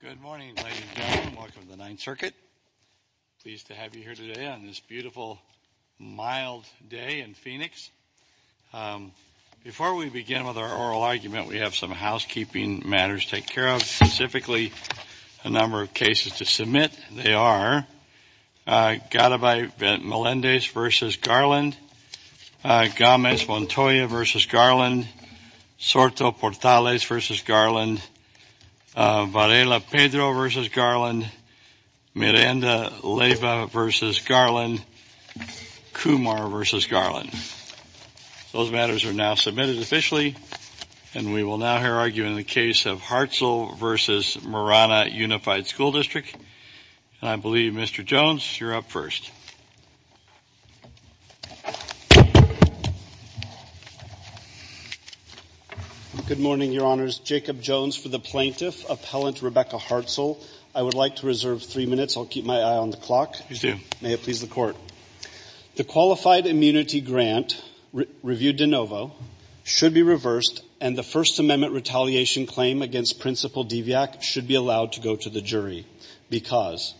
Good morning, ladies and gentlemen. Welcome to the Ninth Circuit. Pleased to have you here today on this beautiful, mild day in Phoenix. Before we begin with our oral argument, we have some housekeeping matters to take care of, specifically a number of cases to submit. They are Garibay-Melendez v. Garland, Gámez-Montoya v. Garland, Sorto-Portales v. Garland, Varela-Pedro v. Garland, Miranda-Leyva v. Garland, Kumar v. Garland. Those matters are now submitted officially, and we will now hear arguing the case of Hartzell v. Marana Unified School District. And I believe, Mr. Jones, you're up first. Good morning, Your Honors. Jacob Jones for the plaintiff, Appellant Rebecca Hartzell. I would like to reserve three minutes. I'll keep my eye on the clock. Please do. May it please the Court. The qualified immunity grant reviewed de novo should be reversed, and the First Amendment retaliation claim against Principal Diviak should be allowed to go to the jury because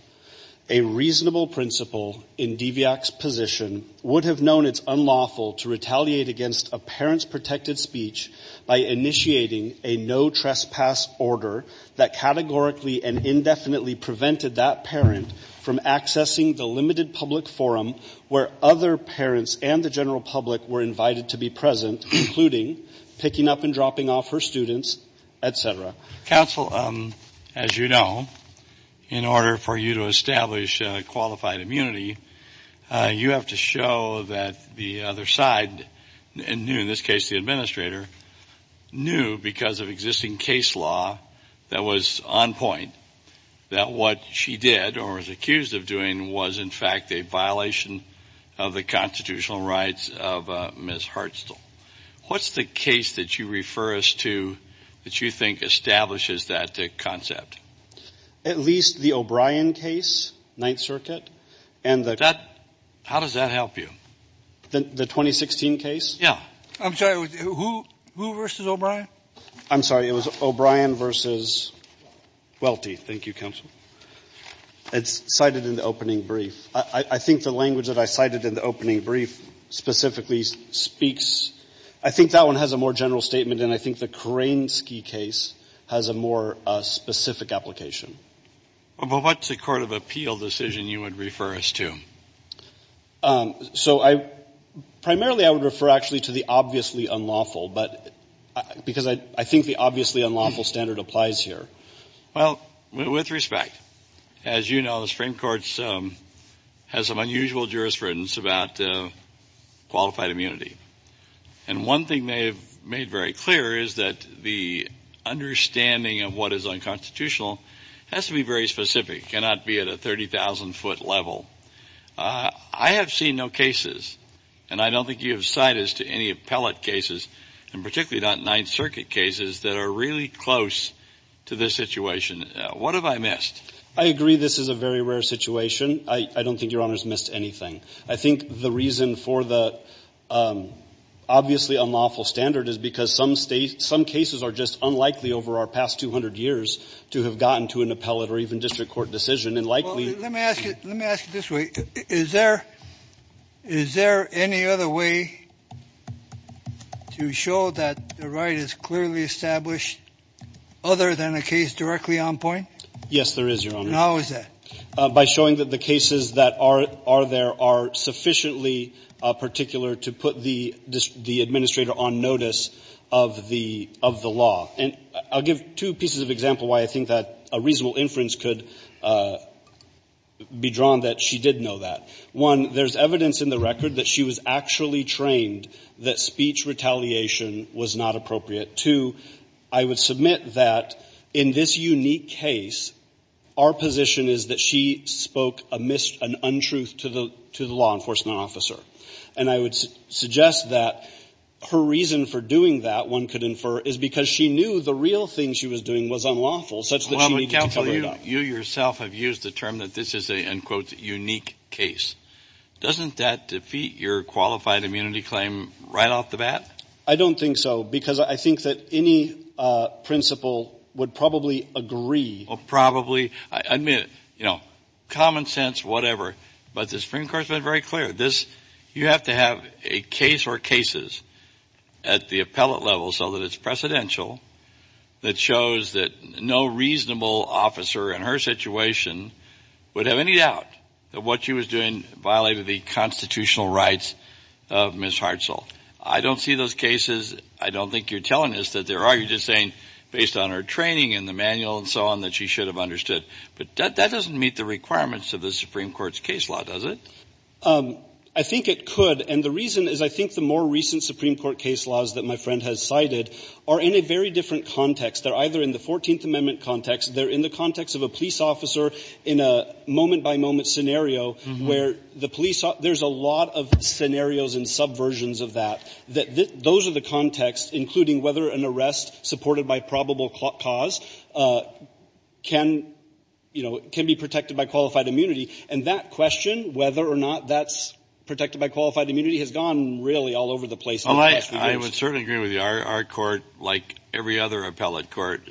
a reasonable principal in Diviak's position would have known it's unlawful to retaliate against a parent's protected speech by initiating a no-trespass order that categorically and indefinitely prevented that parent from accessing the limited public forum where other parents and the general public were invited to be present, including picking up and dropping off her students, et cetera. Counsel, as you know, in order for you to establish qualified immunity, you have to show that the other side knew, in this case the administrator, knew because of existing case law that was on point that what she did or was accused of doing was, in fact, a violation of the constitutional rights of Ms. Hartzell. What's the case that you refer us to that you think establishes that concept? At least the O'Brien case, Ninth Circuit. How does that help you? The 2016 case? Yeah. I'm sorry. Who versus O'Brien? I'm sorry. It was O'Brien versus Welty. Thank you, counsel. It's cited in the opening brief. I think the language that I cited in the opening brief specifically speaks. I think that one has a more general statement, and I think the Kerensky case has a more specific application. Well, what's the court of appeal decision you would refer us to? So I – primarily I would refer, actually, to the obviously unlawful, but – because I think the obviously unlawful standard applies here. Well, with respect, as you know, the Supreme Court has some unusual jurisprudence about qualified immunity. And one thing they have made very clear is that the understanding of what is unconstitutional has to be very specific. It cannot be at a 30,000-foot level. I have seen no cases, and I don't think you have cited any appellate cases, and particularly not Ninth Circuit cases, that are really close to this situation. What have I missed? I agree this is a very rare situation. I don't think Your Honor has missed anything. I think the reason for the obviously unlawful standard is because some cases are just an appellate or even district court decision, and likely – Well, let me ask it this way. Is there any other way to show that the right is clearly established other than a case directly on point? Yes, there is, Your Honor. And how is that? By showing that the cases that are there are sufficiently particular to put the administrator on notice of the law. I'll give two pieces of example why I think that a reasonable inference could be drawn that she did know that. One, there's evidence in the record that she was actually trained that speech retaliation was not appropriate. Two, I would submit that in this unique case, our position is that she spoke an untruth to the law enforcement officer. And I would suggest that her reason for doing that, one could infer, is because she knew the real thing she was doing was unlawful such that she needed to cover it Well, but, counsel, you yourself have used the term that this is a, in quotes, unique case. Doesn't that defeat your qualified immunity claim right off the bat? I don't think so, because I think that any principal would probably agree. Well, probably. I admit, you know, common sense, whatever. But the Supreme Court has been very clear. You have to have a case or cases at the appellate level so that it's precedential that shows that no reasonable officer in her situation would have any doubt that what she was doing violated the constitutional rights of Ms. Hartzell. I don't see those cases. I don't think you're telling us that there are. You're just saying, based on her training and the manual and so on, that she should have understood. But that doesn't meet the requirements of the Supreme Court's case law, does it? I think it could. And the reason is, I think the more recent Supreme Court case laws that my friend has cited are in a very different context. They're either in the 14th Amendment context. They're in the context of a police officer in a moment-by-moment scenario where the police ought to be able to protect her. There's a lot of scenarios and subversions of that. Those are the contexts, including whether an arrest supported by probable cause can, you know, can be protected by qualified immunity. And that question, whether or not that's protected by qualified immunity, has gone really all over the place in the last few days. I would certainly agree with you. Our court, like every other appellate court,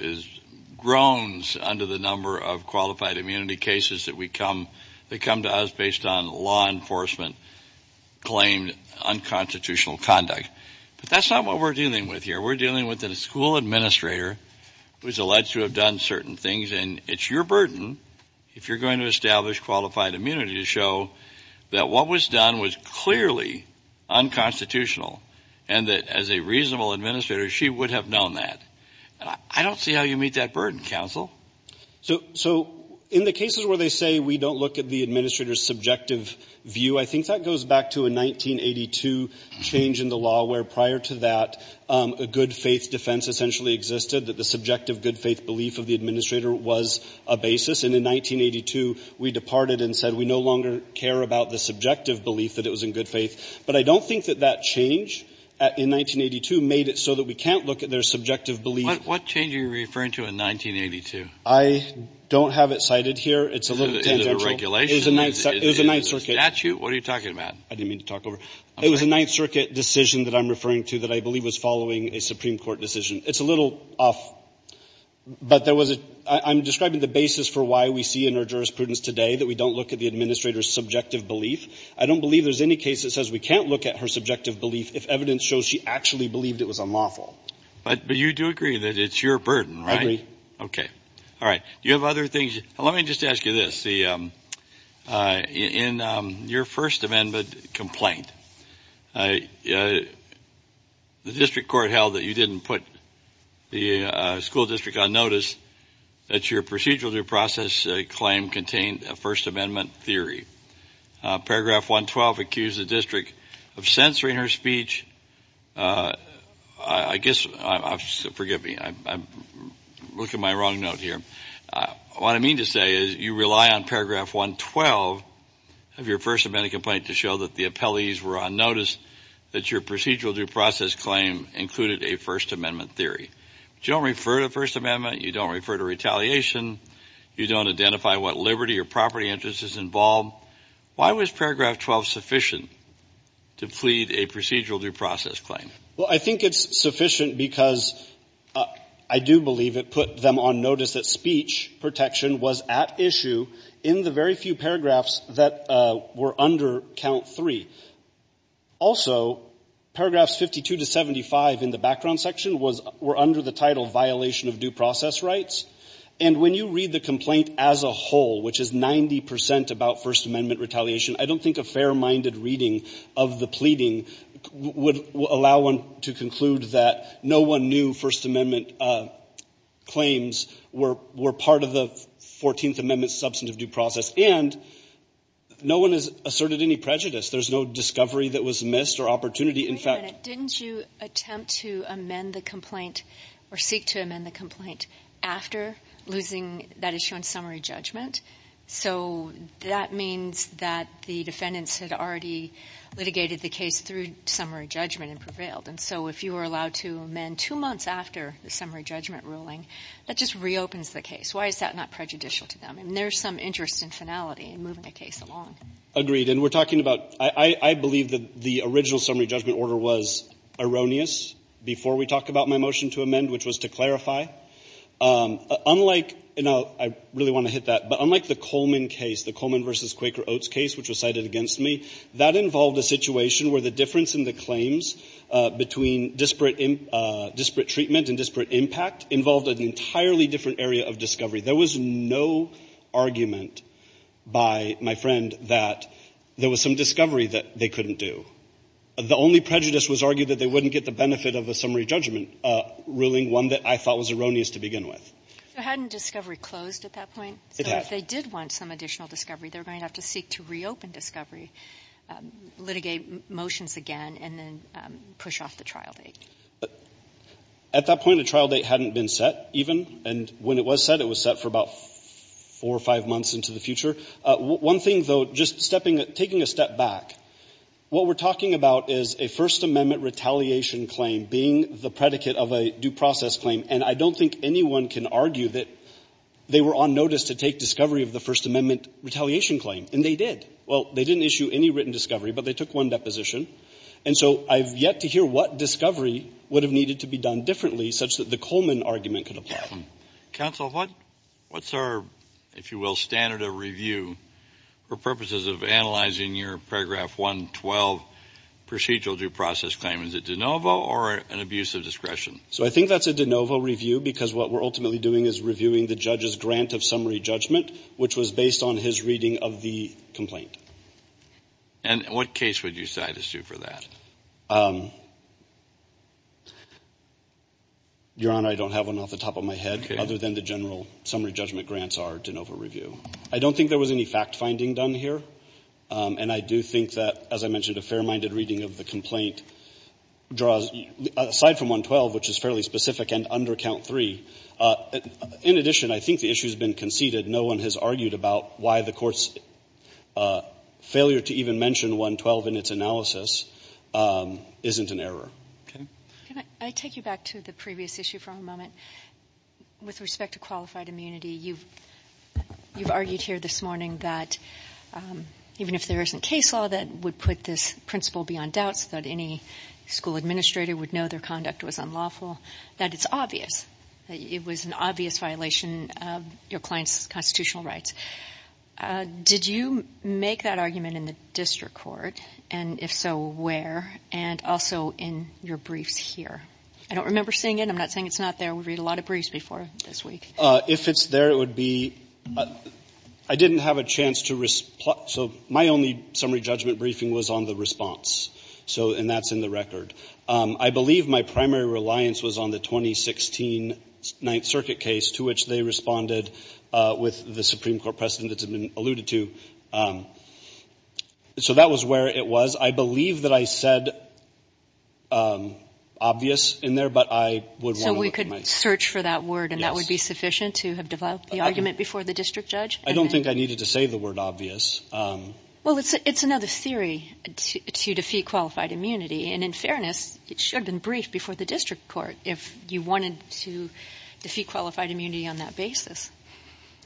groans under the number of qualified immunity cases that come to us based on law enforcement-claimed unconstitutional conduct. But that's not what we're dealing with here. We're dealing with a school administrator who's alleged to have done certain things, and it's your burden, if you're going to establish qualified immunity, to show that what was done was clearly unconstitutional and that, as a reasonable administrator, she would have known that. And I don't see how you meet that burden, counsel. So in the cases where they say we don't look at the administrator's subjective view, I think that goes back to a 1982 change in the law where, prior to that, a good faith belief of the administrator was a basis. And in 1982, we departed and said we no longer care about the subjective belief that it was in good faith. But I don't think that that change in 1982 made it so that we can't look at their subjective belief. What change are you referring to in 1982? I don't have it cited here. It's a little tangential. Is it a regulation? It was a Ninth Circuit. Is it a statute? What are you talking about? I didn't mean to talk over. It was a Ninth Circuit decision that I'm referring to that I believe was following a Supreme Court decision. It's a little off. But there was a — I'm describing the basis for why we see in our jurisprudence today that we don't look at the administrator's subjective belief. I don't believe there's any case that says we can't look at her subjective belief if evidence shows she actually believed it was unlawful. But you do agree that it's your burden, right? I agree. Okay. All right. Do you have other things? Let me just ask you this. In your First Amendment complaint, the district court held that you didn't put the school district on notice that your procedural due process claim contained a First Amendment theory. Paragraph 112 accused the district of censoring her speech. I guess — forgive me. I'm looking at my wrong note here. What I mean to say is you rely on paragraph 112 of your First Amendment complaint to show that the appellees were on notice that your procedural due process claim included a First Amendment theory. But you don't refer to First Amendment. You don't refer to retaliation. You don't identify what liberty or property interest is involved. Why was paragraph 12 sufficient to plead a procedural due process claim? Well, I think it's sufficient because I do believe it put them on notice that speech protection was at issue in the very few paragraphs that were under count three. Also, paragraphs 52 to 75 in the background section were under the title violation of due process rights. And when you read the complaint as a whole, which is 90 percent about First Amendment retaliation, I don't think a fair-minded reading of the pleading would allow one to conclude that no one knew First Amendment claims were part of the 14th Amendment substantive due process. And no one has asserted any prejudice. There's no discovery that was missed or opportunity. In fact — Didn't you attempt to amend the complaint or seek to amend the complaint after losing that issue in summary judgment? So that means that the defendants had already litigated the case through summary judgment and prevailed. And so if you were allowed to amend two months after the summary judgment ruling, that just reopens the case. Why is that not prejudicial to them? I mean, there's some interest in finality in moving a case along. Agreed. And we're talking about — I believe that the original summary judgment order was erroneous before we talked about my motion to amend, which was to clarify. Unlike — and I really want to hit that — but unlike the Coleman case, the Coleman v. Quaker Oates case, which was cited against me, that involved a situation where the difference in the claims between disparate treatment and disparate impact involved an entirely different area of discovery. There was no argument by my friend that there was some discovery that they couldn't do. The only prejudice was argued that they wouldn't get the benefit of a summary judgment ruling, one that I thought was erroneous to begin with. So hadn't discovery closed at that point? It had. So if they did want some additional discovery, they're going to have to seek to reopen discovery, litigate motions again, and then push off the trial date. At that point, a trial date hadn't been set, even. And when it was set, it was set for about four or five months into the future. One thing, though, just taking a step back, what we're talking about is a First Amendment retaliation claim being the predicate of a due process claim. And I don't think anyone can argue that they were on notice to take discovery of the First Amendment retaliation claim. And they did. Well, they didn't issue any written discovery, but they took one deposition. And so I've yet to hear what discovery would have needed to be done differently such that the Coleman argument could apply. Kennedy. Counsel, what's our, if you will, standard of review for purposes of analyzing your paragraph 112 procedural due process claim? Is it de novo or an abuse of discretion? So I think that's a de novo review because what we're ultimately doing is reviewing the judge's grant of summary judgment, which was based on his reading of the complaint. And what case would you cite us to for that? Your Honor, I don't have one off the top of my head other than the general summary judgment grants are de novo review. I don't think there was any fact finding done here. And I do think that, as I mentioned, a fair-minded reading of the complaint draws aside from 112, which is fairly specific, and under count three. In addition, I think the issue has been conceded. No one has argued about why the Court's failure to even mention 112 in its analysis isn't an error. Okay. Can I take you back to the previous issue for a moment? With respect to qualified immunity, you've argued here this morning that even if there isn't case law that would put this principle beyond doubt so that any school administrator would know their conduct was unlawful, that it's obvious, that it was an obvious violation of your client's constitutional rights. Did you make that argument in the district court, and if so, where, and also in your briefs here? I don't remember seeing it. I'm not saying it's not there. We read a lot of briefs before this week. If it's there, it would be – I didn't have a chance to – so my only summary judgment briefing was on the response. So – and that's in the record. I believe my primary reliance was on the 2016 Ninth Circuit case to which they responded with the Supreme Court precedent that's been alluded to. So that was where it was. I believe that I said obvious in there, but I would want to look at my – So we could search for that word, and that would be sufficient to have developed the argument before the district judge? I don't think I needed to say the word obvious. Well, it's another theory to defeat qualified immunity. And in fairness, it should have been briefed before the district court if you wanted to defeat qualified immunity on that basis.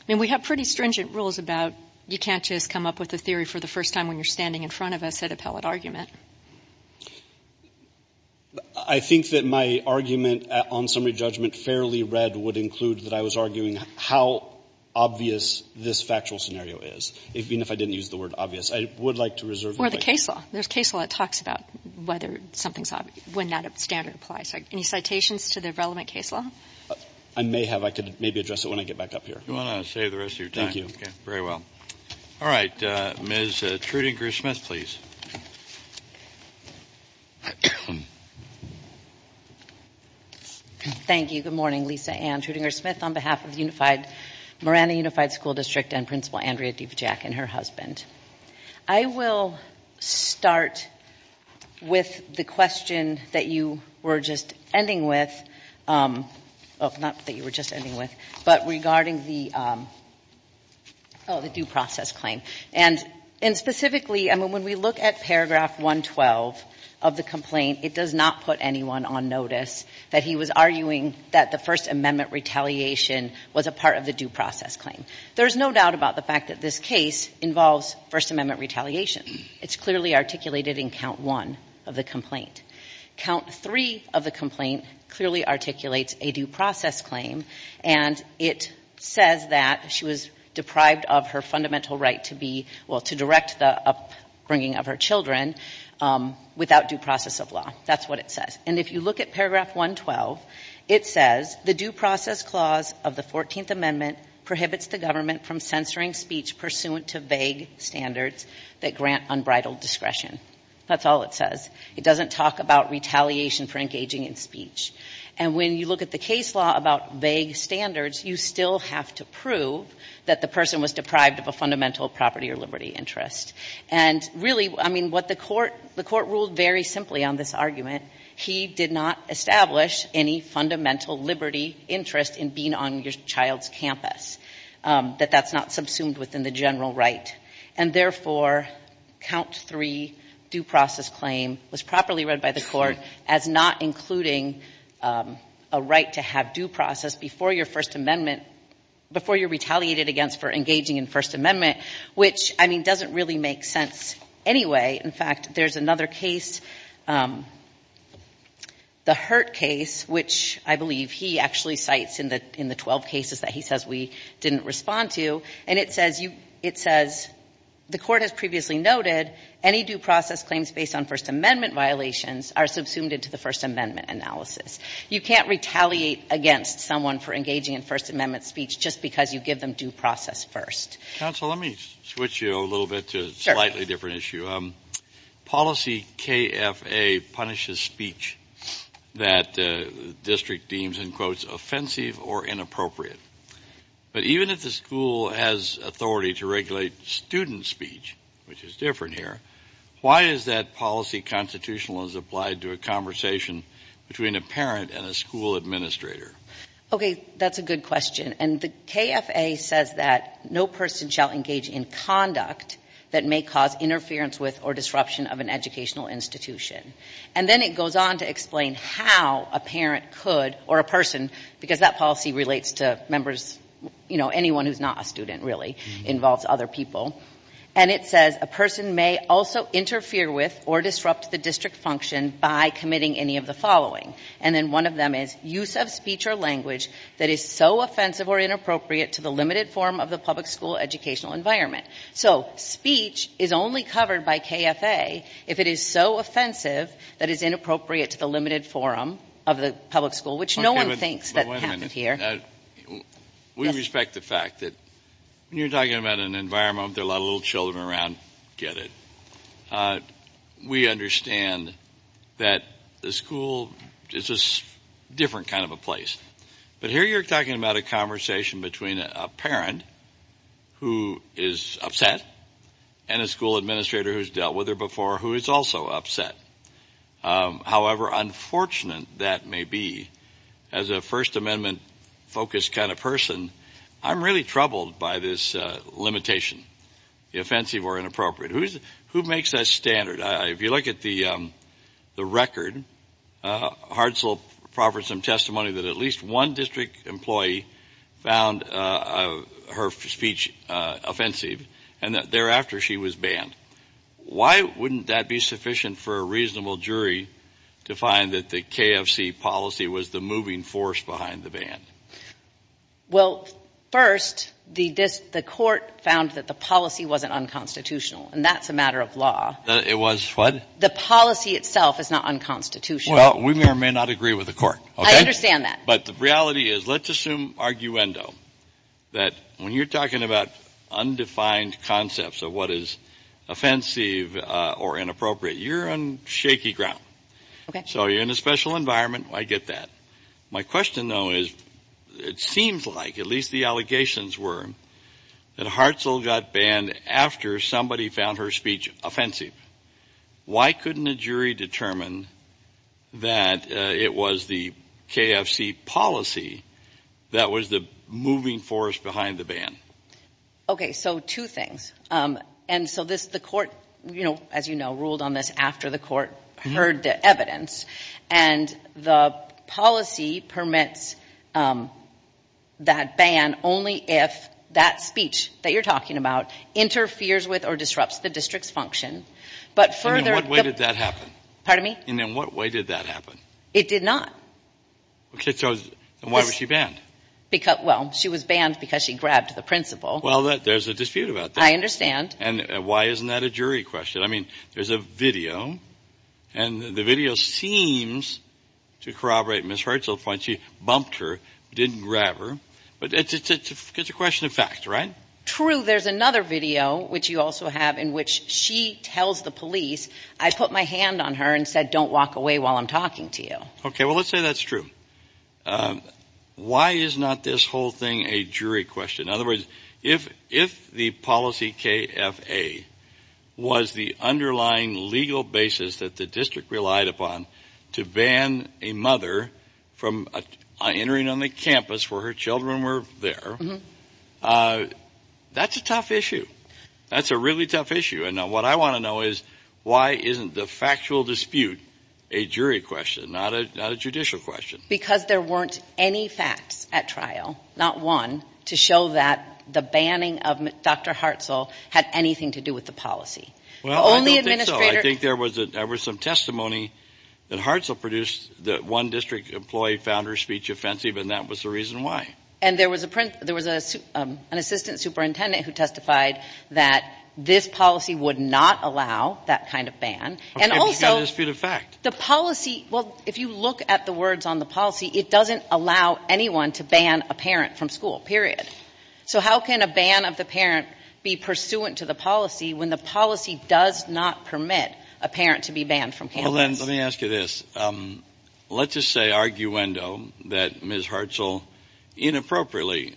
I mean, we have pretty stringent rules about you can't just come up with a theory for the first time when you're standing in front of us at appellate argument. I think that my argument on summary judgment fairly read would include that I was arguing how obvious this factual scenario is, even if I didn't use the word obvious. I would like to reserve the right – Or the case law. There's a case law that talks about whether something's – when that standard applies. Any citations to the relevant case law? I may have. I could maybe address it when I get back up here. You want to save the rest of your time. Thank you. Very well. All right. Ms. Trudinger-Smith, please. Thank you. Good morning. Lisa Ann Trudinger-Smith on behalf of the Morana Unified School District and Principal Andrea Devejack and her husband. I will start with the question that you were just ending with – not that you were just And specifically, I mean, when we look at paragraph 112 of the complaint, it does not put anyone on notice that he was arguing that the First Amendment retaliation was a part of the due process claim. There's no doubt about the fact that this case involves First Amendment retaliation. It's clearly articulated in count one of the complaint. Count three of the complaint clearly articulates a due process claim, and it says that she was deprived of her fundamental right to be – well, to direct the upbringing of her children without due process of law. That's what it says. And if you look at paragraph 112, it says, That's all it says. It doesn't talk about retaliation for engaging in speech. And when you look at the case law about vague standards, you still have to prove that the person was deprived of a fundamental property or liberty interest. And really, I mean, what the Court – the Court ruled very simply on this argument. He did not establish any fundamental liberty interest in being on your child's campus, that that's not subsumed within the general right. And therefore, count three due process claim was properly read by the Court as not including a right to have due process before your First Amendment – before you're retaliated against for engaging in First Amendment, which, I mean, doesn't really make sense anyway. In fact, there's another case, the Hurt case, which I believe he actually cites in the 12 cases that he says we didn't respond to. And it says you – it says, You can't retaliate against someone for engaging in First Amendment speech just because you give them due process first. Counsel, let me switch you a little bit to a slightly different issue. Policy KFA punishes speech that the district deems, in quotes, offensive or inappropriate. But even if the school has authority to regulate student speech, which is different here, why is that policy constitutional as applied to a conversation between a parent and a school administrator? Okay. That's a good question. And the KFA says that no person shall engage in conduct that may cause interference with or disruption of an educational institution. And then it goes on to explain how a parent could – or a person, because that policy relates to members – you know, anyone who's not a student, really, involves other people. And it says a person may also interfere with or disrupt the district function by committing any of the following. And then one of them is use of speech or language that is so offensive or inappropriate to the limited form of the public school educational environment. So speech is only covered by KFA if it is so offensive that it's inappropriate to the limited form of the public school, which no one thinks that happened here. We respect the fact that when you're talking about an environment with a lot of little children around, get it. We understand that the school is a different kind of a place. But here you're talking about a conversation between a parent who is upset and a school administrator who's dealt with her before who is also upset. However unfortunate that may be, as a First Amendment-focused kind of person, I'm really troubled by this limitation, the offensive or inappropriate. Who makes that standard? If you look at the record, Hartzell proffers some testimony that at least one district employee found her speech offensive and that thereafter she was banned. Why wouldn't that be sufficient for a reasonable jury to find that the KFC policy was the moving force behind the ban? Well, first, the court found that the policy wasn't unconstitutional, and that's a matter of law. It was what? The policy itself is not unconstitutional. Well, we may or may not agree with the court, okay? I understand that. But the reality is, let's assume arguendo, that when you're talking about undefined concepts of what is offensive or inappropriate, you're on shaky ground. Okay. So you're in a special environment. I get that. My question, though, is it seems like, at least the allegations were, that Hartzell got banned after somebody found her speech offensive. Why couldn't a jury determine that it was the KFC policy that was the moving force behind the ban? Okay, so two things. And so the court, as you know, ruled on this after the court heard the evidence. And the policy permits that ban only if that speech that you're talking about interferes with or disrupts the district's function. And in what way did that happen? Pardon me? And in what way did that happen? It did not. Okay, so why was she banned? Well, she was banned because she grabbed the principal. Well, there's a dispute about that. I understand. And why isn't that a jury question? I mean, there's a video, and the video seems to corroborate Ms. Hartzell's point. She bumped her, didn't grab her. But it's a question of fact, right? True. There's another video, which you also have, in which she tells the police, I put my hand on her and said, don't walk away while I'm talking to you. Okay, well, let's say that's true. Why is not this whole thing a jury question? In other words, if the policy KFA was the underlying legal basis that the district relied upon to ban a mother from entering on the campus where her children were there, that's a tough issue. That's a really tough issue. And what I want to know is why isn't the factual dispute a jury question, not a judicial question? Because there weren't any facts at trial, not one, to show that the banning of Dr. Hartzell had anything to do with the policy. Well, I don't think so. I think there was some testimony that Hartzell produced that one district employee found her speech offensive, and that was the reason why. And there was an assistant superintendent who testified that this policy would not allow that kind of ban. Okay, but you've got a dispute of fact. The policy, well, if you look at the words on the policy, it doesn't allow anyone to ban a parent from school, period. So how can a ban of the parent be pursuant to the policy when the policy does not permit a parent to be banned from campus? Well, then, let me ask you this. Let's just say arguendo that Ms. Hartzell inappropriately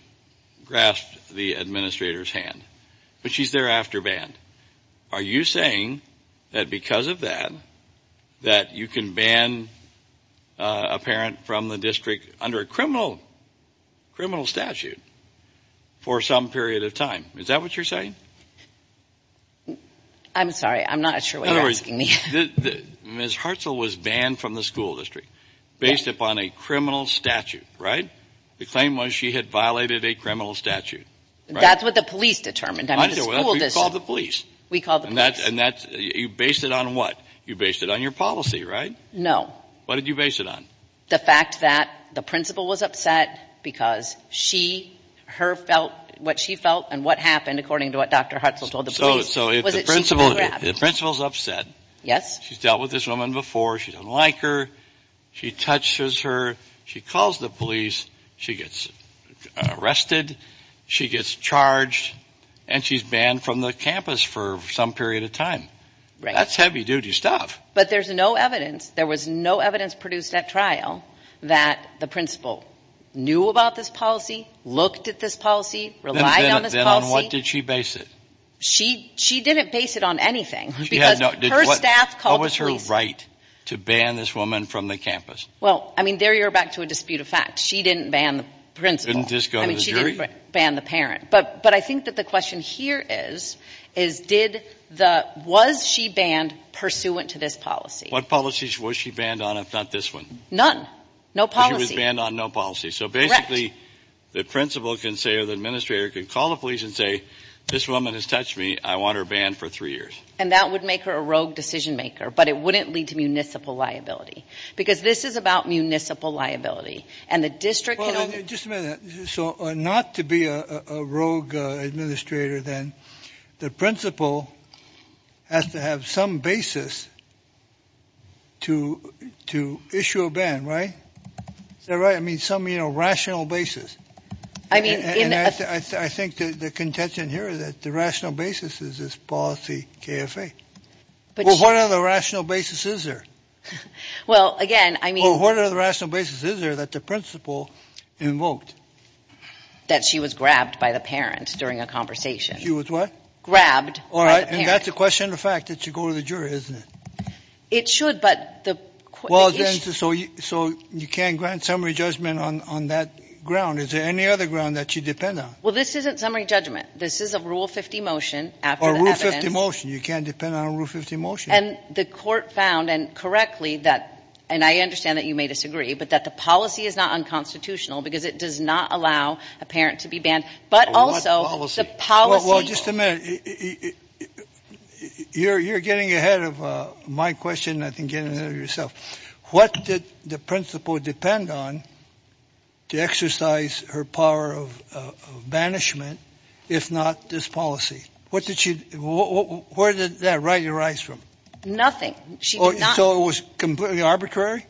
grasped the administrator's hand, but she's thereafter banned. Are you saying that because of that, that you can ban a parent from the district under a criminal statute for some period of time? Is that what you're saying? I'm sorry. I'm not sure what you're asking me. Ms. Hartzell was banned from the school district based upon a criminal statute, right? The claim was she had violated a criminal statute, right? That's what the police determined. We called the police. We called the police. And you based it on what? You based it on your policy, right? No. What did you base it on? The fact that the principal was upset because she, her felt, what she felt and what happened according to what Dr. Hartzell told the police. So if the principal is upset, she's dealt with this woman before, she doesn't like her, she touches her, she calls the police, she gets arrested, she gets charged, and she's banned from the campus for some period of time. Right. That's heavy duty stuff. But there's no evidence. There was no evidence produced at trial that the principal knew about this policy, looked at this policy, relied on this policy. Then on what did she base it? She didn't base it on anything because her staff called the police. What was her right to ban this woman from the campus? Well, I mean, there you're back to a dispute of facts. She didn't ban the principal. Didn't just go to the jury? I mean, she didn't ban the parent. But I think that the question here is, is did the, was she banned pursuant to this policy? What policies was she banned on if not this one? None. No policy. She was banned on no policy. Correct. So basically the principal can say or the administrator can call the police and say, this woman has touched me, I want her banned for three years. And that would make her a rogue decision maker, but it wouldn't lead to municipal liability. Because this is about municipal liability. And the district can only. Just a minute. So not to be a rogue administrator, then the principal has to have some basis to, to issue a ban, right? Is that right? I mean, some, you know, rational basis. I mean. I think the contention here is that the rational basis is this policy KFA. Well, what other rational basis is there? Well, again, I mean. Well, what other rational basis is there that the principal invoked? That she was grabbed by the parent during a conversation. She was what? Grabbed. All right. And that's a question of fact that should go to the jury, isn't it? It should, but the. So you can't grant summary judgment on that ground. Is there any other ground that you depend on? Well, this isn't summary judgment. This is a rule 50 motion. Or rule 50 motion. You can't depend on a rule 50 motion. And the court found and correctly that, and I understand that you may disagree, but that the policy is not unconstitutional because it does not allow a parent to be banned. But also the policy. Well, just a minute. You're getting ahead of my question. I think getting ahead of yourself. What did the principal depend on to exercise her power of banishment? If not this policy, what did she, where did that right arise from? Nothing. So it was completely arbitrary?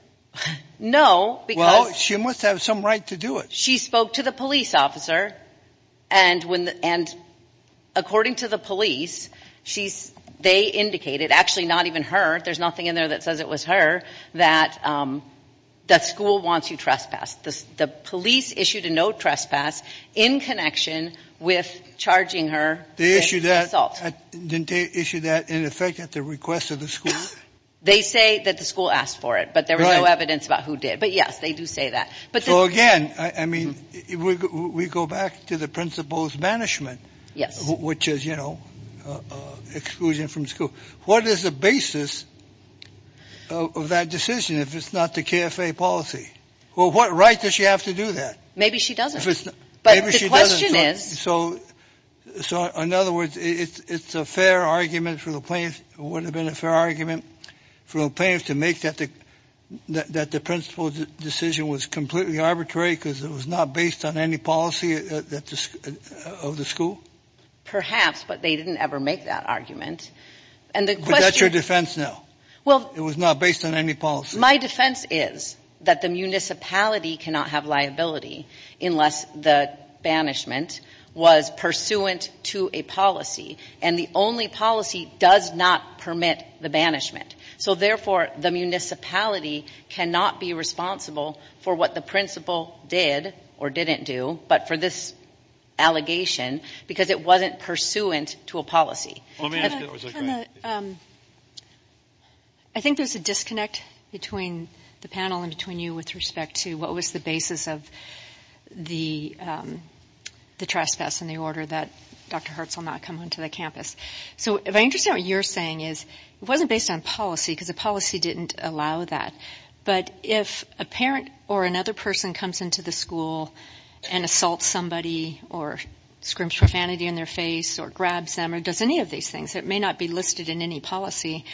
No, because. Well, she must have some right to do it. She spoke to the police officer. And according to the police, they indicated, actually not even her, there's nothing in there that says it was her, that school wants you trespassed. The police issued a no trespass in connection with charging her. Didn't they issue that in effect at the request of the school? They say that the school asked for it, but there was no evidence about who did. But, yes, they do say that. So, again, I mean, we go back to the principal's banishment. Yes. Which is, you know, exclusion from school. What is the basis of that decision if it's not the KFA policy? Well, what right does she have to do that? Maybe she doesn't. But the question is. So, in other words, it's a fair argument for the plaintiffs, would have been a fair argument for the plaintiffs to make that the principal's decision was completely arbitrary because it was not based on any policy of the school? Perhaps, but they didn't ever make that argument. But that's your defense now. It was not based on any policy. My defense is that the municipality cannot have liability unless the banishment was pursuant to a policy. And the only policy does not permit the banishment. So, therefore, the municipality cannot be responsible for what the principal did or didn't do, but for this allegation because it wasn't pursuant to a policy. I think there's a disconnect between the panel and between you with respect to what was the basis of the trespass and the order that Dr. Hertz will not come onto the campus. So, if I understand what you're saying is it wasn't based on policy because the policy didn't allow that. But if a parent or another person comes into the school and assaults somebody or scrimps profanity in their face or grabs them or does any of these things, it may not be listed in any policy.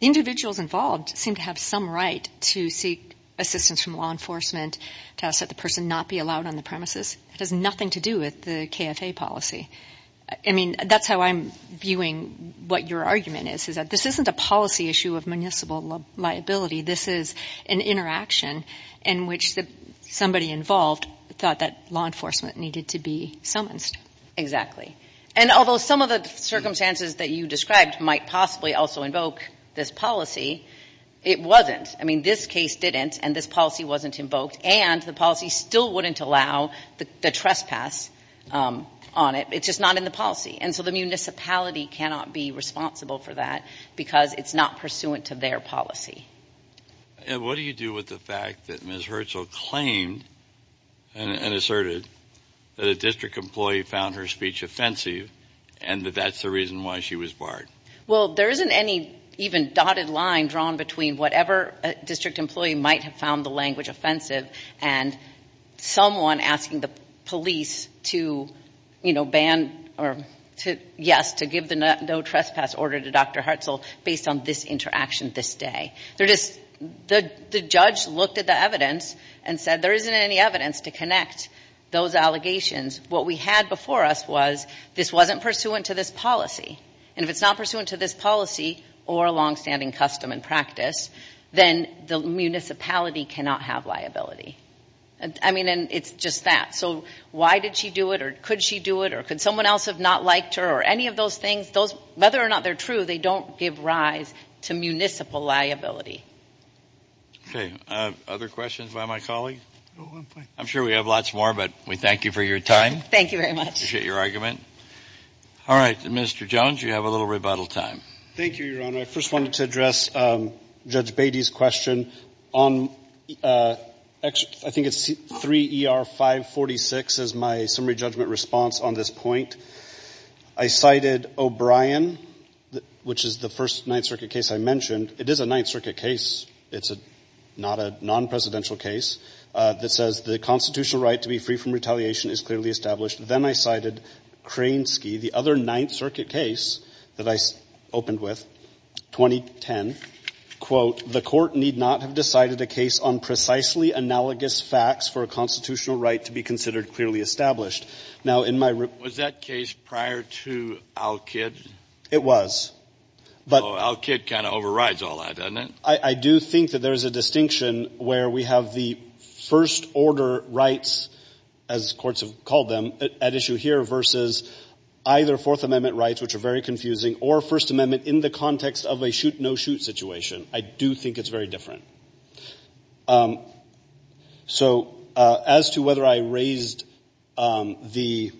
Individuals involved seem to have some right to seek assistance from law enforcement to ask that the person not be allowed on the premises. It has nothing to do with the KFA policy. I mean, that's how I'm viewing what your argument is, is that this isn't a policy issue of municipal liability. This is an interaction in which somebody involved thought that law enforcement needed to be summonsed. And although some of the circumstances that you described might possibly also invoke this policy, it wasn't. I mean, this case didn't, and this policy wasn't invoked, and the policy still wouldn't allow the trespass on it. It's just not in the policy. And so the municipality cannot be responsible for that because it's not pursuant to their policy. And what do you do with the fact that Ms. Hurchill claimed and asserted that a district employee found her speech offensive and that that's the reason why she was barred? Well, there isn't any even dotted line drawn between whatever district employee might have found the language offensive and someone asking the police to, you know, ban or to, yes, to give the no trespass order to Dr. Hurchill based on this interaction this day. They're just, the judge looked at the evidence and said there isn't any evidence to connect those allegations. What we had before us was this wasn't pursuant to this policy, and if it's not pursuant to this policy or a longstanding custom and practice, then the municipality cannot have liability. I mean, and it's just that. So why did she do it or could she do it or could someone else have not liked her or any of those things, whether or not they're true, they don't give rise to municipal liability. Okay. Other questions by my colleague? No, I'm fine. I'm sure we have lots more, but we thank you for your time. Thank you very much. Appreciate your argument. All right, Mr. Jones, you have a little rebuttal time. Thank you, Your Honor. I first wanted to address Judge Beatty's question on, I think it's 3ER546 is my summary judgment response on this point. I cited O'Brien, which is the first Ninth Circuit case I mentioned. It is a Ninth Circuit case. It's not a non-presidential case that says the constitutional right to be free from retaliation is clearly established. Then I cited Kransky, the other Ninth Circuit case that I opened with, 2010. Quote, the Court need not have decided a case on precisely analogous facts for a constitutional right to be considered clearly established. Now, in my room — Was that case prior to Al-Kid? It was. Al-Kid kind of overrides all that, doesn't it? I do think that there is a distinction where we have the first-order rights, as courts have called them, at issue here versus either Fourth Amendment rights, which are very confusing, or First Amendment in the context of a shoot-no-shoot situation. I do think it's very different. So as to whether I raised the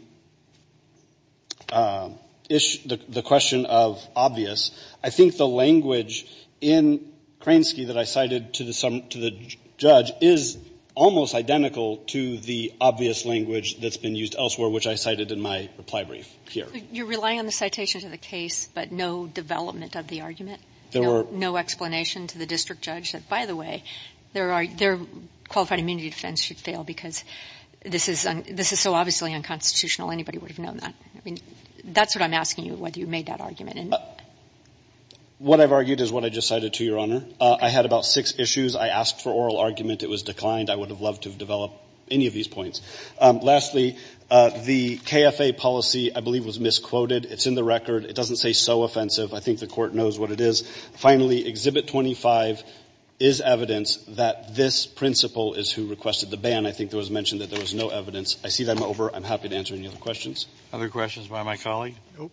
issue, the question of obvious, I think the language in Kransky that I cited to the judge is almost identical to the obvious language that's been used elsewhere, which I cited in my reply brief here. You're relying on the citation to the case, but no development of the argument? There were no explanation to the district judge. By the way, their qualified immunity defense should fail because this is so obviously unconstitutional. Anybody would have known that. I mean, that's what I'm asking you, whether you made that argument. What I've argued is what I just cited to Your Honor. I had about six issues. I asked for oral argument. It was declined. I would have loved to have developed any of these points. Lastly, the KFA policy, I believe, was misquoted. It's in the record. It doesn't say so offensive. I think the Court knows what it is. Finally, Exhibit 25 is evidence that this principal is who requested the ban. I think it was mentioned that there was no evidence. I see that I'm over. I'm happy to answer any other questions. Other questions by my colleague? Nope.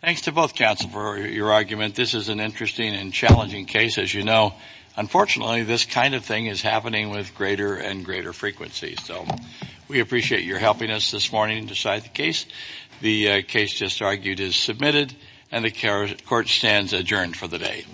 Thanks to both counsel for your argument. This is an interesting and challenging case, as you know. Unfortunately, this kind of thing is happening with greater and greater frequency. So we appreciate your helping us this morning to decide the case. The case just argued is submitted, and the Court stands adjourned for the day.